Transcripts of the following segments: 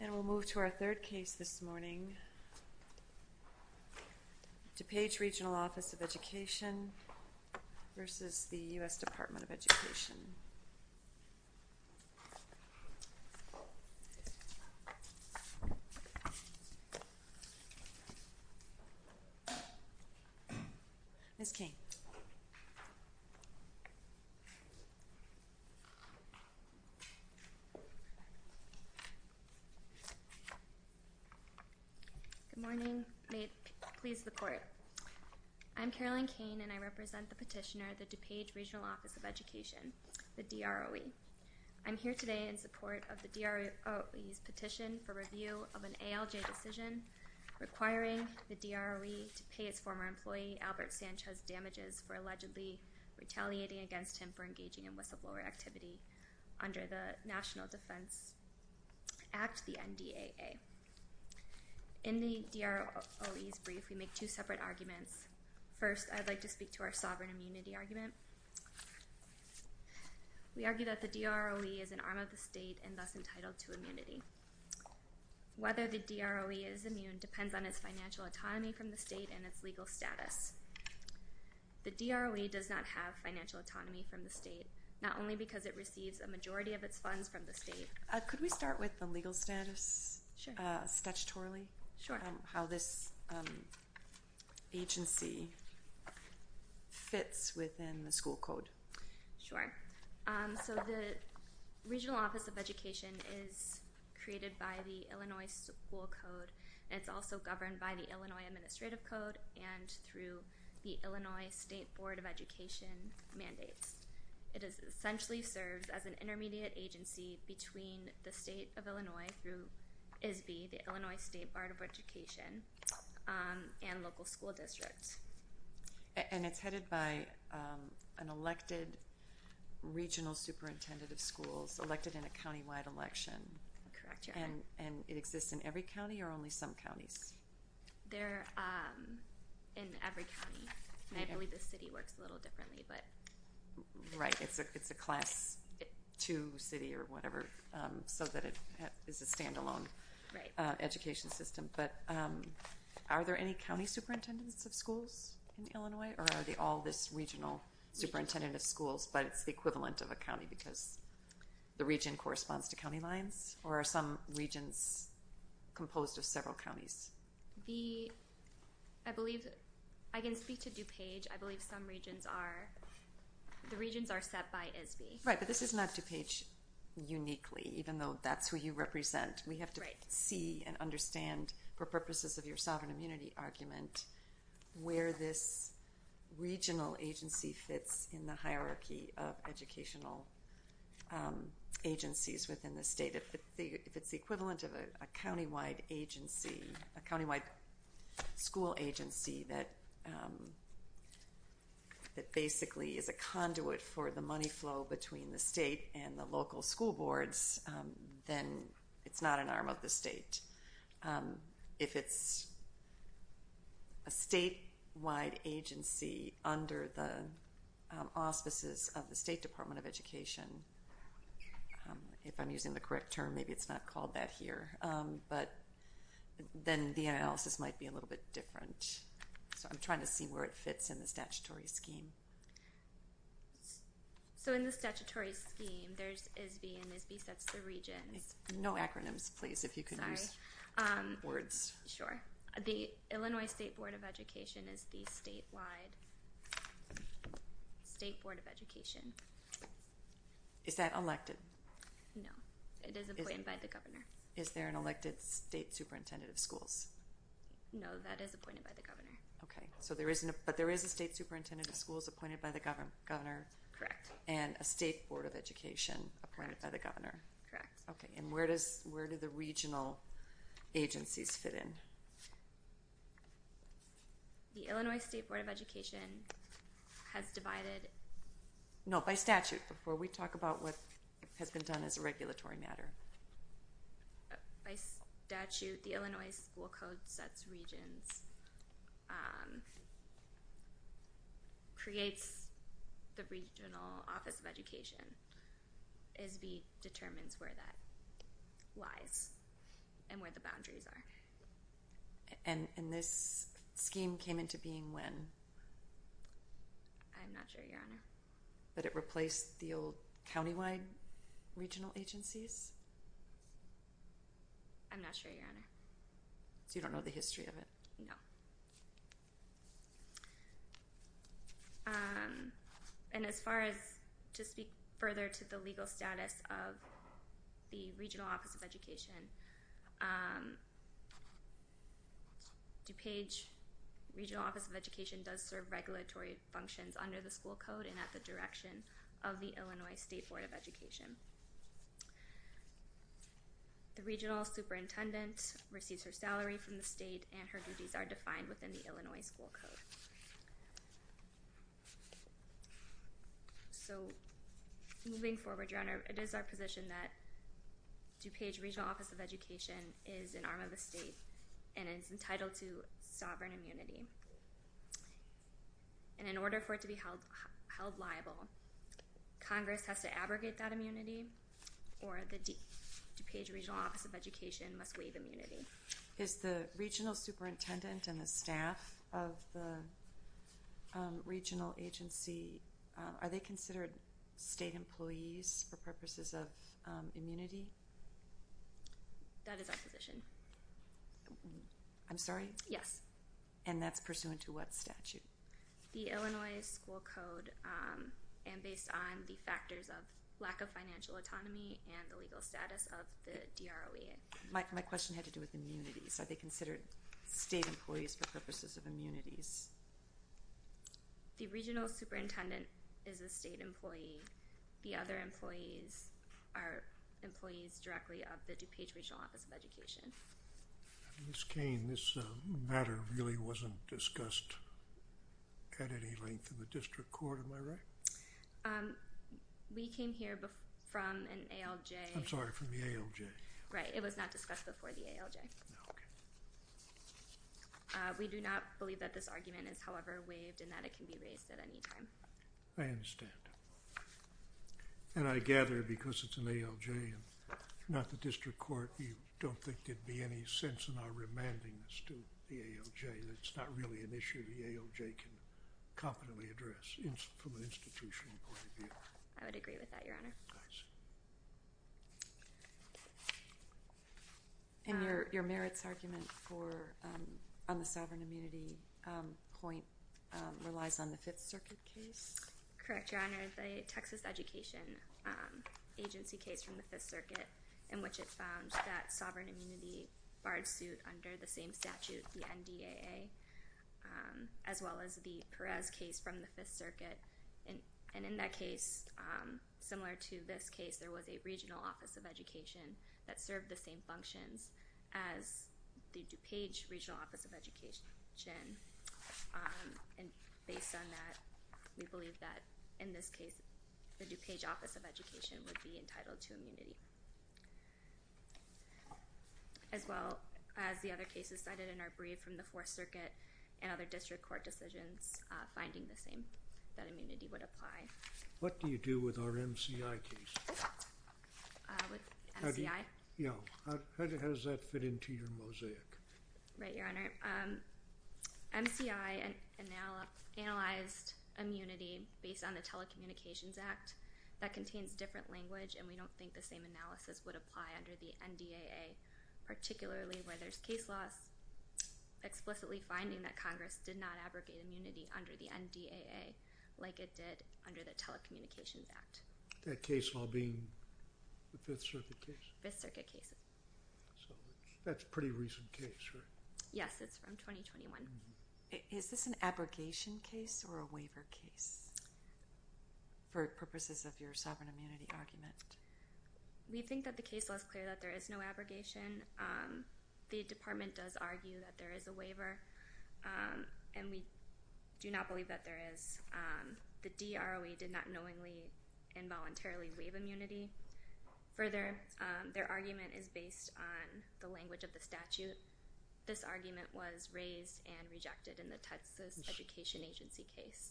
And we'll move to our third case this morning. DuPage Regional Office of Education versus the U.S. Department of Education. Ms. King. Good morning. May it please the Court. I'm Carolyn Kane, and I represent the petitioner, the DuPage Regional Office of Education, the DROE. I'm here today in support of the DROE's petition for review of an ALJ decision requiring the DROE to pay its former employee, Albert Sanchez, damages for allegedly retaliating against him for engaging in whistleblower activity under the National Defense Act, the NDAA. In the DROE's brief, we make two separate arguments. First, I'd like to speak to our sovereign immunity argument. We argue that the DROE is an arm of the state and thus entitled to immunity. Whether the DROE is immune depends on its financial autonomy from the state and its legal status. The DROE does not have financial autonomy from the state, not only because it receives a majority of its funds from the state. Could we start with the legal status, statutorily? Sure. How this agency fits within the school code. Sure. So the Regional Office of Education is created by the Illinois School Code. It's also governed by the Illinois Administrative Code and through the Illinois State Board of Education mandates. It essentially serves as an intermediate agency between the state of Illinois through ISB, the Illinois State Board of Education, and local school districts. And it's headed by an elected regional superintendent of schools, elected in a countywide election. Correct, Your Honor. And it exists in every county or only some counties? They're in every county. And I believe the city works a little differently, but. Right. It's a class two city or whatever, so that it is a standalone education system. But are there any county superintendents of schools in Illinois, or are they all this regional superintendent of schools, but it's the equivalent of a county because the region corresponds to county lines? Or are some regions composed of several counties? The, I believe, I can speak to DuPage. I believe some regions are, the regions are set by ISB. Right, but this is not DuPage uniquely, even though that's who you represent. We have to see and understand, for purposes of your sovereign immunity argument, where this regional agency fits in the hierarchy of educational agencies within the state. If it's the equivalent of a countywide agency, a countywide school agency that basically is a conduit for the money flow between the state and the local school boards, then it's not an arm of the state. If it's a statewide agency under the auspices of the State Department of Education, if I'm using the correct term, maybe it's not called that here, but then the analysis might be a little bit different. So I'm trying to see where it fits in the statutory scheme. So in the statutory scheme, there's ISB and ISB sets the regions. No acronyms, please, if you could use words. Sure. The Illinois State Board of Education is the statewide State Board of Education. Is that elected? No. It is appointed by the governor. Is there an elected state superintendent of schools? No, that is appointed by the governor. Okay. But there is a state superintendent of schools appointed by the governor? Correct. And a state board of education appointed by the governor? Correct. Okay. And where do the regional agencies fit in? The Illinois State Board of Education has divided... No, by statute, before we talk about what has been done as a regulatory matter. By statute, the Illinois School Code sets regions, creates the regional office of education. ISB determines where that lies and where the boundaries are. And this scheme came into being when? But it replaced the old countywide regional agencies? I'm not sure, Your Honor. So you don't know the history of it? No. And as far as, to speak further to the legal status of the regional office of education, DuPage Regional Office of Education does serve regulatory functions under the school code and at the direction of the Illinois State Board of Education. The regional superintendent receives her salary from the state and her duties are defined within the Illinois School Code. So moving forward, Your Honor, it is our position that DuPage Regional Office of Education is an arm of the state and is entitled to sovereign immunity. And in order for it to be held liable, Congress has to abrogate that immunity or the DuPage Regional Office of Education must waive immunity. Is the regional superintendent and the staff of the regional agency, are they considered state employees for purposes of immunity? That is our position. I'm sorry? Yes. And that's pursuant to what statute? The Illinois School Code and based on the factors of lack of financial autonomy and the legal status of the DROE. My question had to do with immunities. Are they considered state employees for purposes of immunities? The regional superintendent is a state employee. The other employees are employees directly of the DuPage Regional Office of Education. Ms. Cain, this matter really wasn't discussed at any length in the district court. Am I right? We came here from an ALJ. I'm sorry, from the ALJ. Right. It was not discussed before the ALJ. Okay. We do not believe that this argument is, however, waived and that it can be raised at any time. I understand. And I gather because it's an ALJ and not the district court, you don't think there'd be any sense in our remanding this to the ALJ. It's not really an issue the ALJ can competently address from an institutional point of view. I would agree with that, Your Honor. I see. And your merits argument on the sovereign immunity point relies on the Fifth Circuit case? Correct, Your Honor. The Texas Education Agency case from the Fifth Circuit, in which it found that sovereign immunity barred suit under the same statute, the NDAA, as well as the Perez case from the Fifth Circuit. And in that case, similar to this case, there was a regional office of education that served the same functions as the DuPage regional office of education. And based on that, we believe that, in this case, the DuPage office of education would be entitled to immunity, as well as the other cases cited in our brief from the Fourth Circuit and other district court decisions finding the same, that immunity would apply. What do you do with our MCI case? With MCI? Yeah. How does that fit into your mosaic? Right, Your Honor. MCI analyzed immunity based on the Telecommunications Act. That contains different language, and we don't think the same analysis would apply under the NDAA, particularly where there's case laws explicitly finding that Congress did not abrogate immunity under the NDAA like it did under the Telecommunications Act. That case law being the Fifth Circuit case? Fifth Circuit case. So that's a pretty recent case, right? Yes, it's from 2021. Is this an abrogation case or a waiver case for purposes of your sovereign immunity argument? We think that the case law is clear that there is no abrogation. The department does argue that there is a waiver, and we do not believe that there is. The DROE did not knowingly and voluntarily waive immunity. Further, their argument is based on the language of the statute. This argument was raised and rejected in the Texas Education Agency case.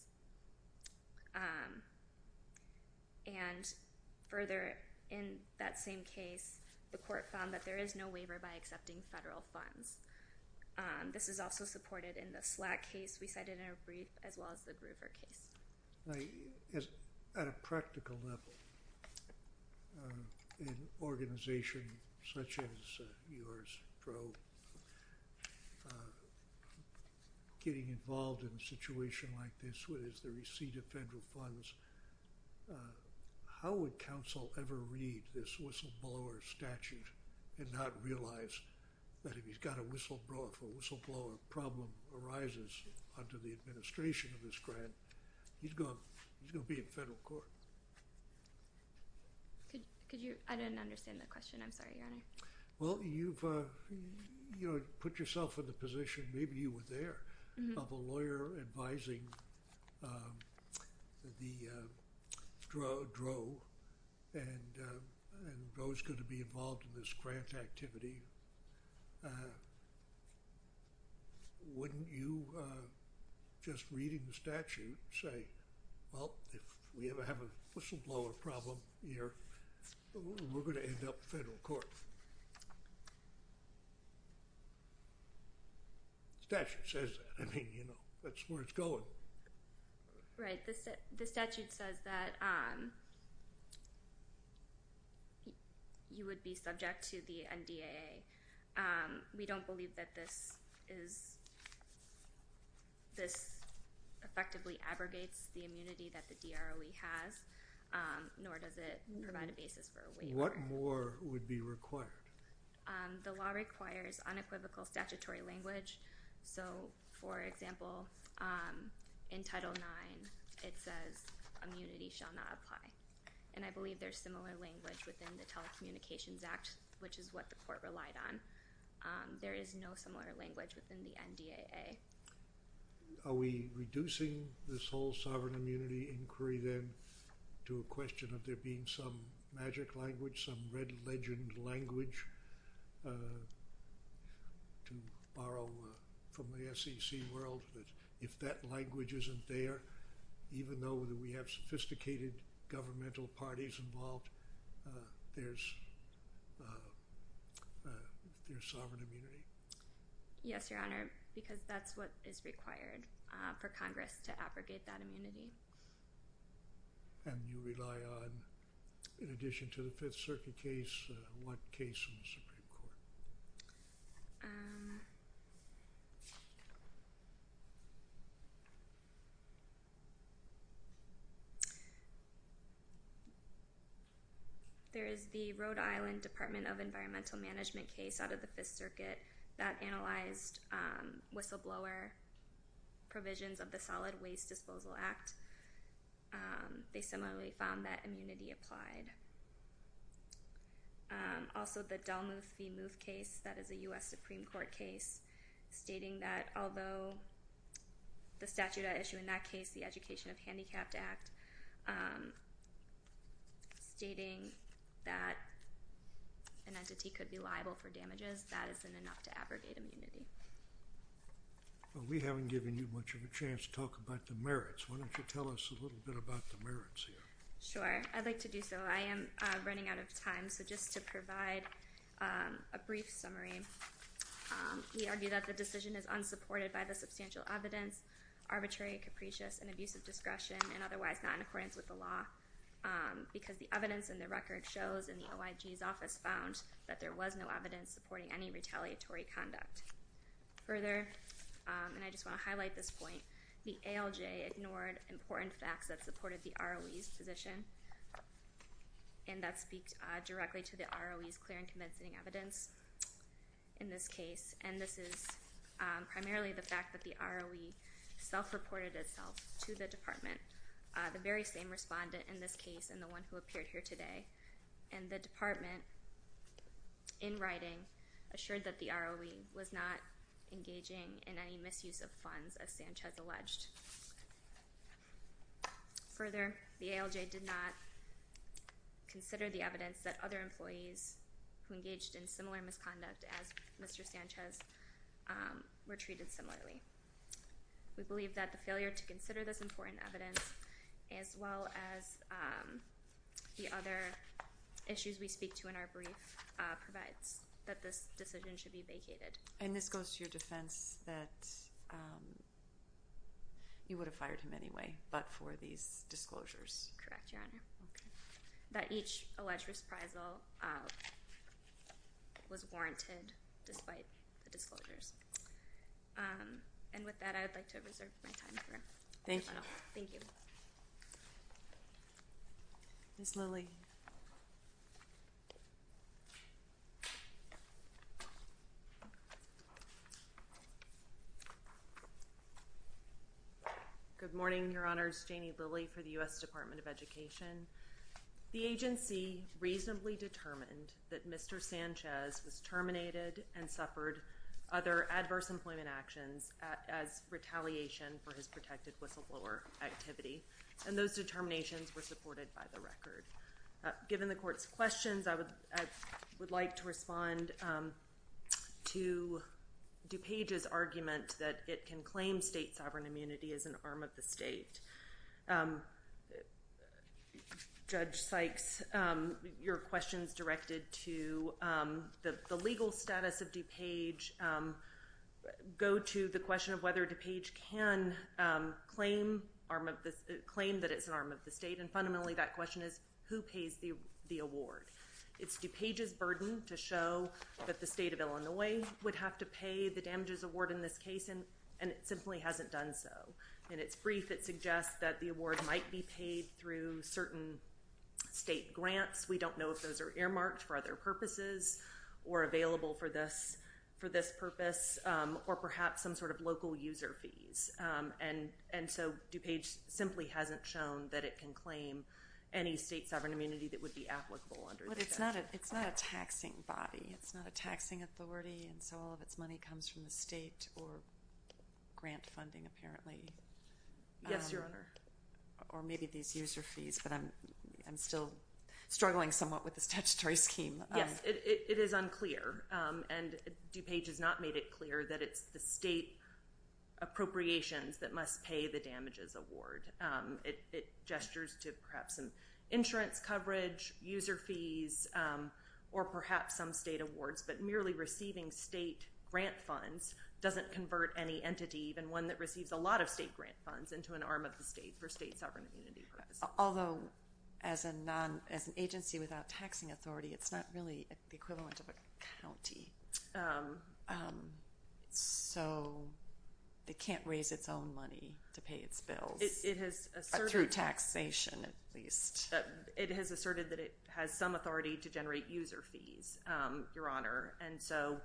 And further, in that same case, the court found that there is no waiver by accepting federal funds. This is also supported in the SLAC case we cited in our brief as well as the Groover case. At a practical level, an organization such as yours, DROE, getting involved in a situation like this with the receipt of federal funds, how would counsel ever read this whistleblower statute and not realize that if he's got a whistleblower, if a whistleblower problem arises under the administration of this grant, he's going to be in federal court? I didn't understand the question. I'm sorry, Your Honor. Well, you've put yourself in the position, maybe you were there, of a lawyer advising the DROE and DROE is going to be involved in this grant activity. Wouldn't you, just reading the statute, say, well, if we ever have a whistleblower problem here, we're going to end up in federal court? The statute says that. I mean, you know, that's where it's going. Right. The statute says that you would be subject to the NDAA. We don't believe that this effectively abrogates the immunity that the DROE has, nor does it provide a basis for a waiver. What more would be required? The law requires unequivocal statutory language. So, for example, in Title IX, it says immunity shall not apply. And I believe there's similar language within the Telecommunications Act, which is what the court relied on. There is no similar language within the NDAA. Are we reducing this whole sovereign immunity inquiry, then, to a question of there being some magic language, some red legend language, to borrow from the SEC world that if that language isn't there, even though we have sophisticated governmental parties involved, there's sovereign immunity? Yes, Your Honor, because that's what is required for Congress to abrogate that immunity. And you rely on, in addition to the Fifth Circuit case, what case in the Supreme Court? There is the Rhode Island Department of Environmental Management case out of the Fifth Circuit that analyzed whistleblower provisions of the Solid Waste Disposal Act. They similarly found that immunity applied. Also, the Delmuth v. Muth case, that is a U.S. Supreme Court case, stating that although the statute I issue in that case, the Education of Handicapped Act, stating that an entity could be liable for damages, that isn't enough to abrogate immunity. Well, we haven't given you much of a chance to talk about the merits. Why don't you tell us a little bit about the merits here? Sure, I'd like to do so. I am running out of time, so just to provide a brief summary, we argue that the decision is unsupported by the substantial evidence, arbitrary, capricious, and abuse of discretion, and otherwise not in accordance with the law, because the evidence in the record shows, and the OIG's office found, that there was no evidence supporting any retaliatory conduct. Further, and I just want to highlight this point, the ALJ ignored important facts that supported the ROE's position, and that speaks directly to the ROE's clear and convincing evidence in this case. And this is primarily the fact that the ROE self-reported itself to the department, the very same respondent in this case and the one who appeared here today. And the department, in writing, assured that the ROE was not engaging in any misuse of funds, as Sanchez alleged. Further, the ALJ did not consider the evidence that other employees who engaged in similar misconduct, as Mr. Sanchez, were treated similarly. We believe that the failure to consider this important evidence, as well as the other issues we speak to in our brief, provides that this decision should be vacated. And this goes to your defense that you would have fired him anyway, but for these disclosures. Correct, Your Honor. That each alleged reprisal was warranted, despite the disclosures. And with that, I would like to reserve my time. Thank you. Thank you. Ms. Lilly. Ms. Lilly. Good morning, Your Honors. Janie Lilly for the U.S. Department of Education. The agency reasonably determined that Mr. Sanchez was terminated and suffered other adverse employment actions as retaliation for his protected whistleblower activity. And those determinations were supported by the record. Given the Court's questions, I would like to respond to DuPage's argument that it can claim state sovereign immunity as an arm of the state. Judge Sykes, your questions directed to the legal status of DuPage go to the question of whether DuPage can claim that it's an arm of the state. And fundamentally, that question is, who pays the award? It's DuPage's burden to show that the state of Illinois would have to pay the damages award in this case, and it simply hasn't done so. In its brief, it suggests that the award might be paid through certain state grants. We don't know if those are earmarked for other purposes or available for this purpose or perhaps some sort of local user fees. And so DuPage simply hasn't shown that it can claim any state sovereign immunity that would be applicable under the statute. But it's not a taxing body. It's not a taxing authority, and so all of its money comes from the state or grant funding, apparently. Yes, Your Honor. Or maybe these user fees, but I'm still struggling somewhat with the statutory scheme. Yes, it is unclear, and DuPage has not made it clear that it's the state appropriations that must pay the damages award. It gestures to perhaps some insurance coverage, user fees, or perhaps some state awards, but merely receiving state grant funds doesn't convert any entity, even one that receives a lot of state grant funds, into an arm of the state for state sovereign immunity purposes. Although, as an agency without taxing authority, it's not really the equivalent of a county. So it can't raise its own money to pay its bills through taxation, at least. It has asserted that it has some authority to generate user fees, Your Honor, and so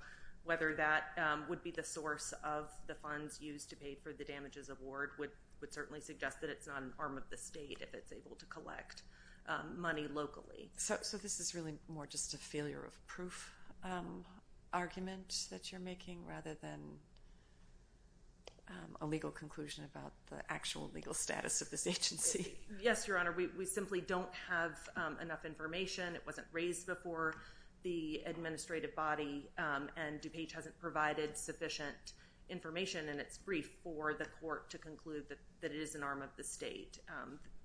whether that would be the source of the funds used to pay for the damages award would certainly suggest that it's not an arm of the state if it's able to collect money locally. So this is really more just a failure of proof argument that you're making rather than a legal conclusion about the actual legal status of this agency? Yes, Your Honor. We simply don't have enough information. It wasn't raised before the administrative body, and DuPage hasn't provided sufficient information in its brief for the court to conclude that it is an arm of the state.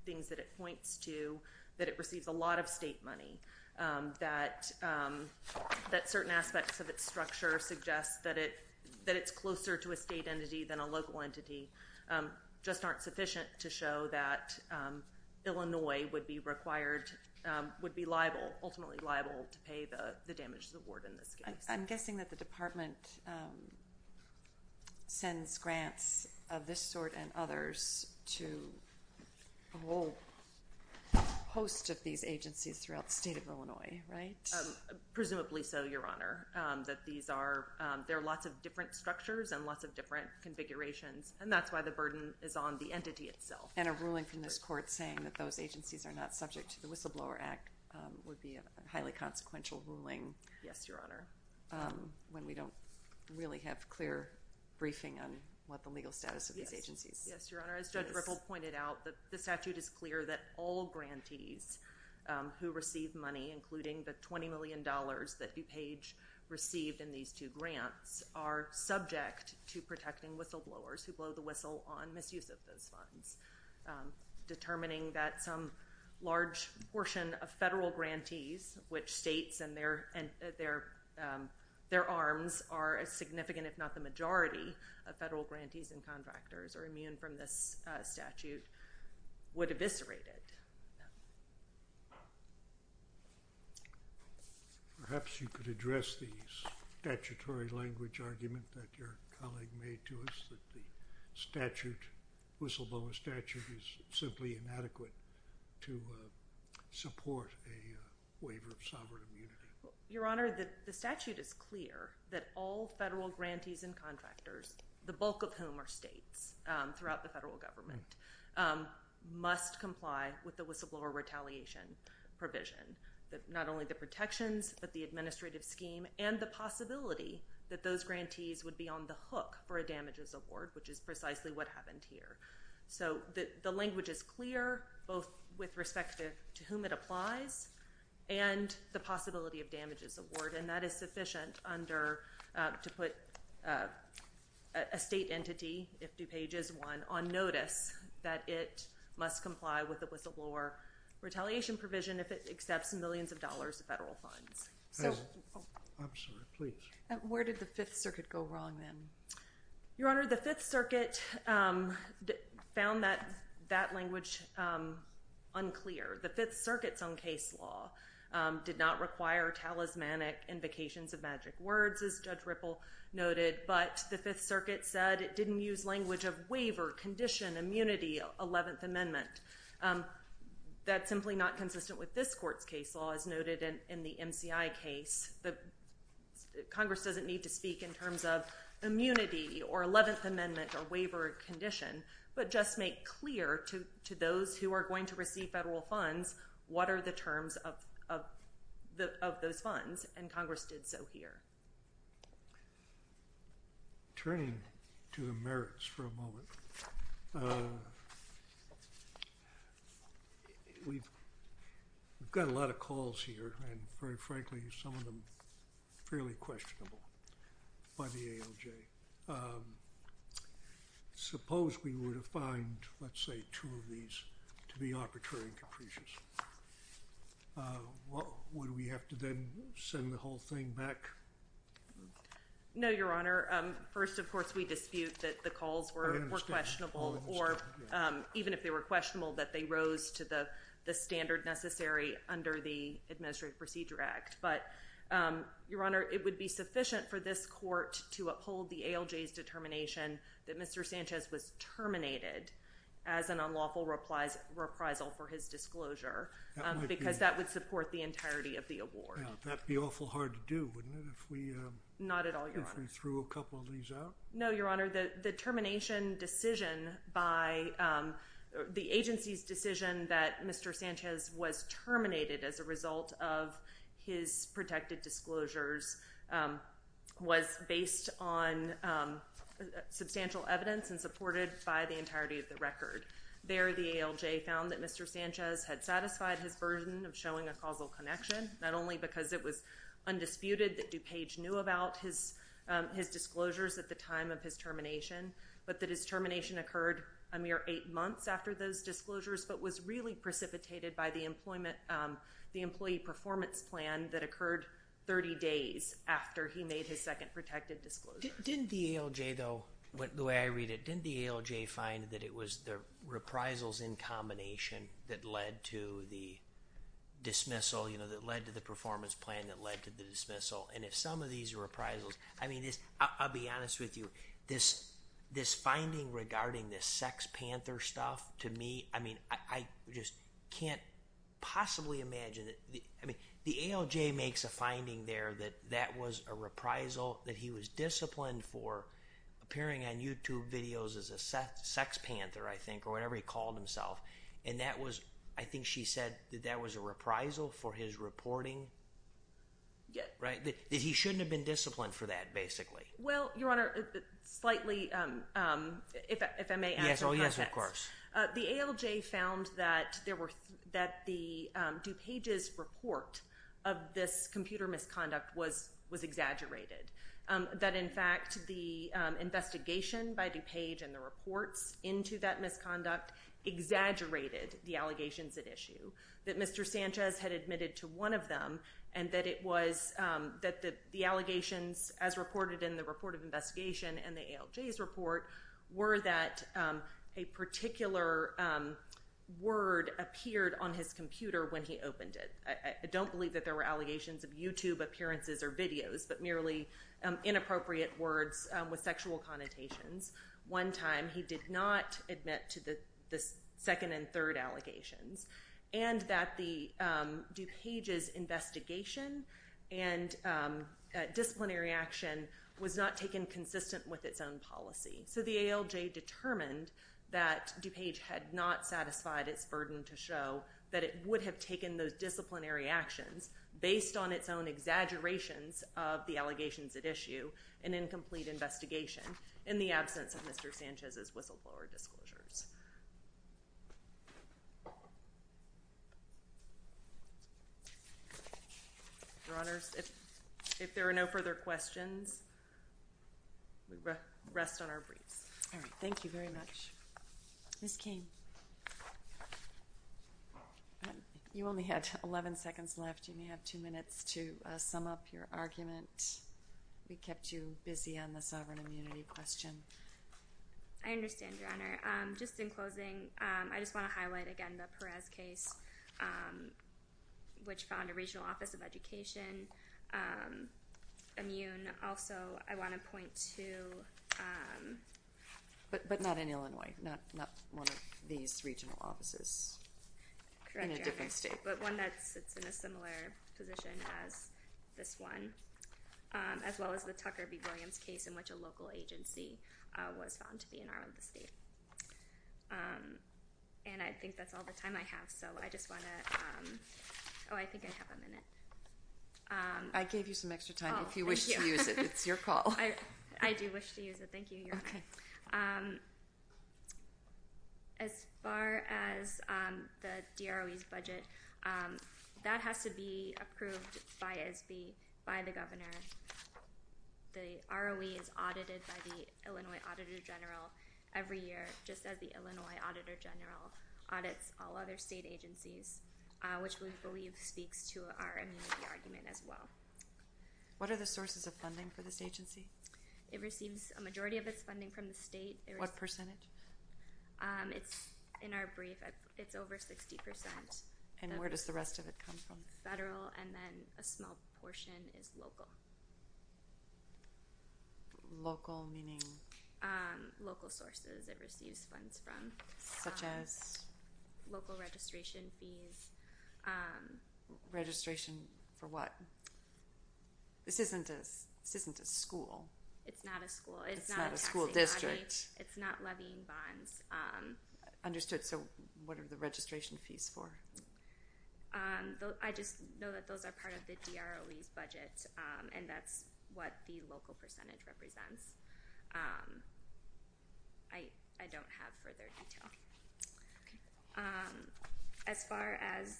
Things that it points to, that it receives a lot of state money, that certain aspects of its structure suggest that it's closer to a state entity than a local entity, just aren't sufficient to show that Illinois would be ultimately liable to pay the damages award in this case. I'm guessing that the Department sends grants of this sort and others to a whole host of these agencies throughout the state of Illinois, right? There are lots of different structures and lots of different configurations, and that's why the burden is on the entity itself. And a ruling from this court saying that those agencies are not subject to the Whistleblower Act would be a highly consequential ruling when we don't really have clear briefing on what the legal status of these agencies is. Yes, Your Honor. As Judge Ripple pointed out, the statute is clear that all grantees who receive money, including the $20 million that DuPage received in these two grants, are subject to protecting whistleblowers who blow the whistle on misuse of those funds, determining that some large portion of federal grantees, which states and their arms are a significant, if not the majority, of federal grantees and contractors are immune from this statute, would eviscerate it. Perhaps you could address the statutory language argument that your colleague made to us, that the whistleblower statute is simply inadequate to support a waiver of sovereign immunity. Your Honor, the statute is clear that all federal grantees and contractors, the bulk of whom are states throughout the federal government, must comply with the whistleblower retaliation provision, not only the protections but the administrative scheme and the possibility that those grantees would be on the hook for a damages award, which is precisely what happened here. So the language is clear, both with respect to whom it applies and the possibility of damages award, and that is sufficient to put a state entity, if DuPage is one, on notice that it must comply with the whistleblower retaliation provision if it accepts millions of dollars of federal funds. I'm sorry, please. Where did the Fifth Circuit go wrong then? Your Honor, the Fifth Circuit found that language unclear. The Fifth Circuit's own case law did not require talismanic invocations of magic words, as Judge Ripple noted, but the Fifth Circuit said it didn't use language of waiver, condition, immunity, Eleventh Amendment. That's simply not consistent with this court's case law, as noted in the MCI case. Congress doesn't need to speak in terms of immunity or Eleventh Amendment or waiver condition, but just make clear to those who are going to receive federal funds what are the terms of those funds, and Congress did so here. Turning to the merits for a moment, we've got a lot of calls here, and very frankly some of them fairly questionable by the ALJ. Suppose we were to find, let's say, two of these to be arbitrary and capricious. Would we have to then send the whole thing back? No, Your Honor. First, of course, we dispute that the calls were questionable, or even if they were questionable that they rose to the standard necessary under the Administrative Procedure Act. But, Your Honor, it would be sufficient for this court to uphold the ALJ's determination that Mr. Sanchez was terminated as an unlawful reprisal for his disclosure, because that would support the entirety of the award. That would be awful hard to do, wouldn't it, if we threw a couple of these out? No, Your Honor. The agency's decision that Mr. Sanchez was terminated as a result of his protected disclosures was based on substantial evidence and supported by the entirety of the record. There, the ALJ found that Mr. Sanchez had satisfied his burden of showing a causal connection, not only because it was undisputed that DuPage knew about his disclosures at the time of his termination, but that his termination occurred a mere eight months after those disclosures, but was really precipitated by the employee performance plan that occurred 30 days after he made his second protected disclosure. Didn't the ALJ, though, the way I read it, didn't the ALJ find that it was the reprisals in combination that led to the dismissal, you know, that led to the performance plan that led to the dismissal? And if some of these reprisals, I mean, I'll be honest with you, this finding regarding this sex panther stuff, to me, I mean, I just can't possibly imagine it. I mean, the ALJ makes a finding there that that was a reprisal, that he was disciplined for appearing on YouTube videos as a sex panther, I think, or whatever he called himself, and that was, I think she said that that was a reprisal for his reporting. Yeah. Right? That he shouldn't have been disciplined for that, basically. Well, Your Honor, slightly, if I may add to that. Oh, yes, of course. The ALJ found that the DuPage's report of this computer misconduct was exaggerated, that, in fact, the investigation by DuPage and the reports into that misconduct exaggerated the allegations at issue, that Mr. Sanchez had admitted to one of them, and that it was, that the allegations, as reported in the report of investigation and the ALJ's report, were that a particular word appeared on his computer when he opened it. I don't believe that there were allegations of YouTube appearances or videos, but merely inappropriate words with sexual connotations. One time he did not admit to the second and third allegations, and that the DuPage's investigation and disciplinary action was not taken consistent with its own policy. So the ALJ determined that DuPage had not satisfied its burden to show that it would have taken those disciplinary actions based on its own exaggerations of the allegations at issue and incomplete investigation. In the absence of Mr. Sanchez's whistleblower disclosures. Your Honors, if there are no further questions, we rest on our briefs. All right. Thank you very much. Ms. Cain, you only had 11 seconds left. You may have two minutes to sum up your argument. We kept you busy on the sovereign immunity question. I understand, Your Honor. Just in closing, I just want to highlight again the Perez case, which found a regional office of education immune. Also, I want to point to... But not in Illinois. Not one of these regional offices in a different state. But one that sits in a similar position as this one. As well as the Tucker v. Williams case in which a local agency was found to be an arm of the state. And I think that's all the time I have, so I just want to... Oh, I think I have a minute. I gave you some extra time. If you wish to use it, it's your call. I do wish to use it. Thank you, Your Honor. Okay. As far as the DROE's budget, that has to be approved by the governor. The ROE is audited by the Illinois Auditor General every year, just as the Illinois Auditor General audits all other state agencies, which we believe speaks to our immunity argument as well. What are the sources of funding for this agency? It receives a majority of its funding from the state. What percentage? In our brief, it's over 60%. And where does the rest of it come from? Federal, and then a small portion is local. Local meaning? Local sources it receives funds from. Such as? Local registration fees. Registration for what? This isn't a school. It's not a school. It's not a school district. It's not levying bonds. Understood. So what are the registration fees for? I just know that those are part of the DROE's budget, and that's what the local percentage represents. I don't have further detail. As far as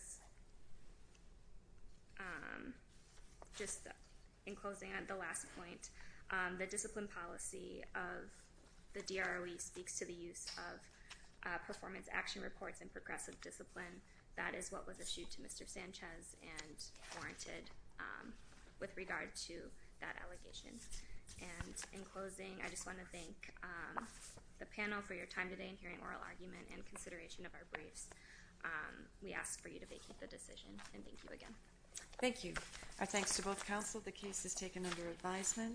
just in closing on the last point, the discipline policy of the DROE speaks to the use of performance action reports in progressive discipline. That is what was issued to Mr. Sanchez and warranted with regard to that allegation. And in closing, I just want to thank the panel for your time today in hearing oral argument and consideration of our briefs. We ask for you to vacate the decision, and thank you again. Thank you. Our thanks to both counsel. The case is taken under advisement.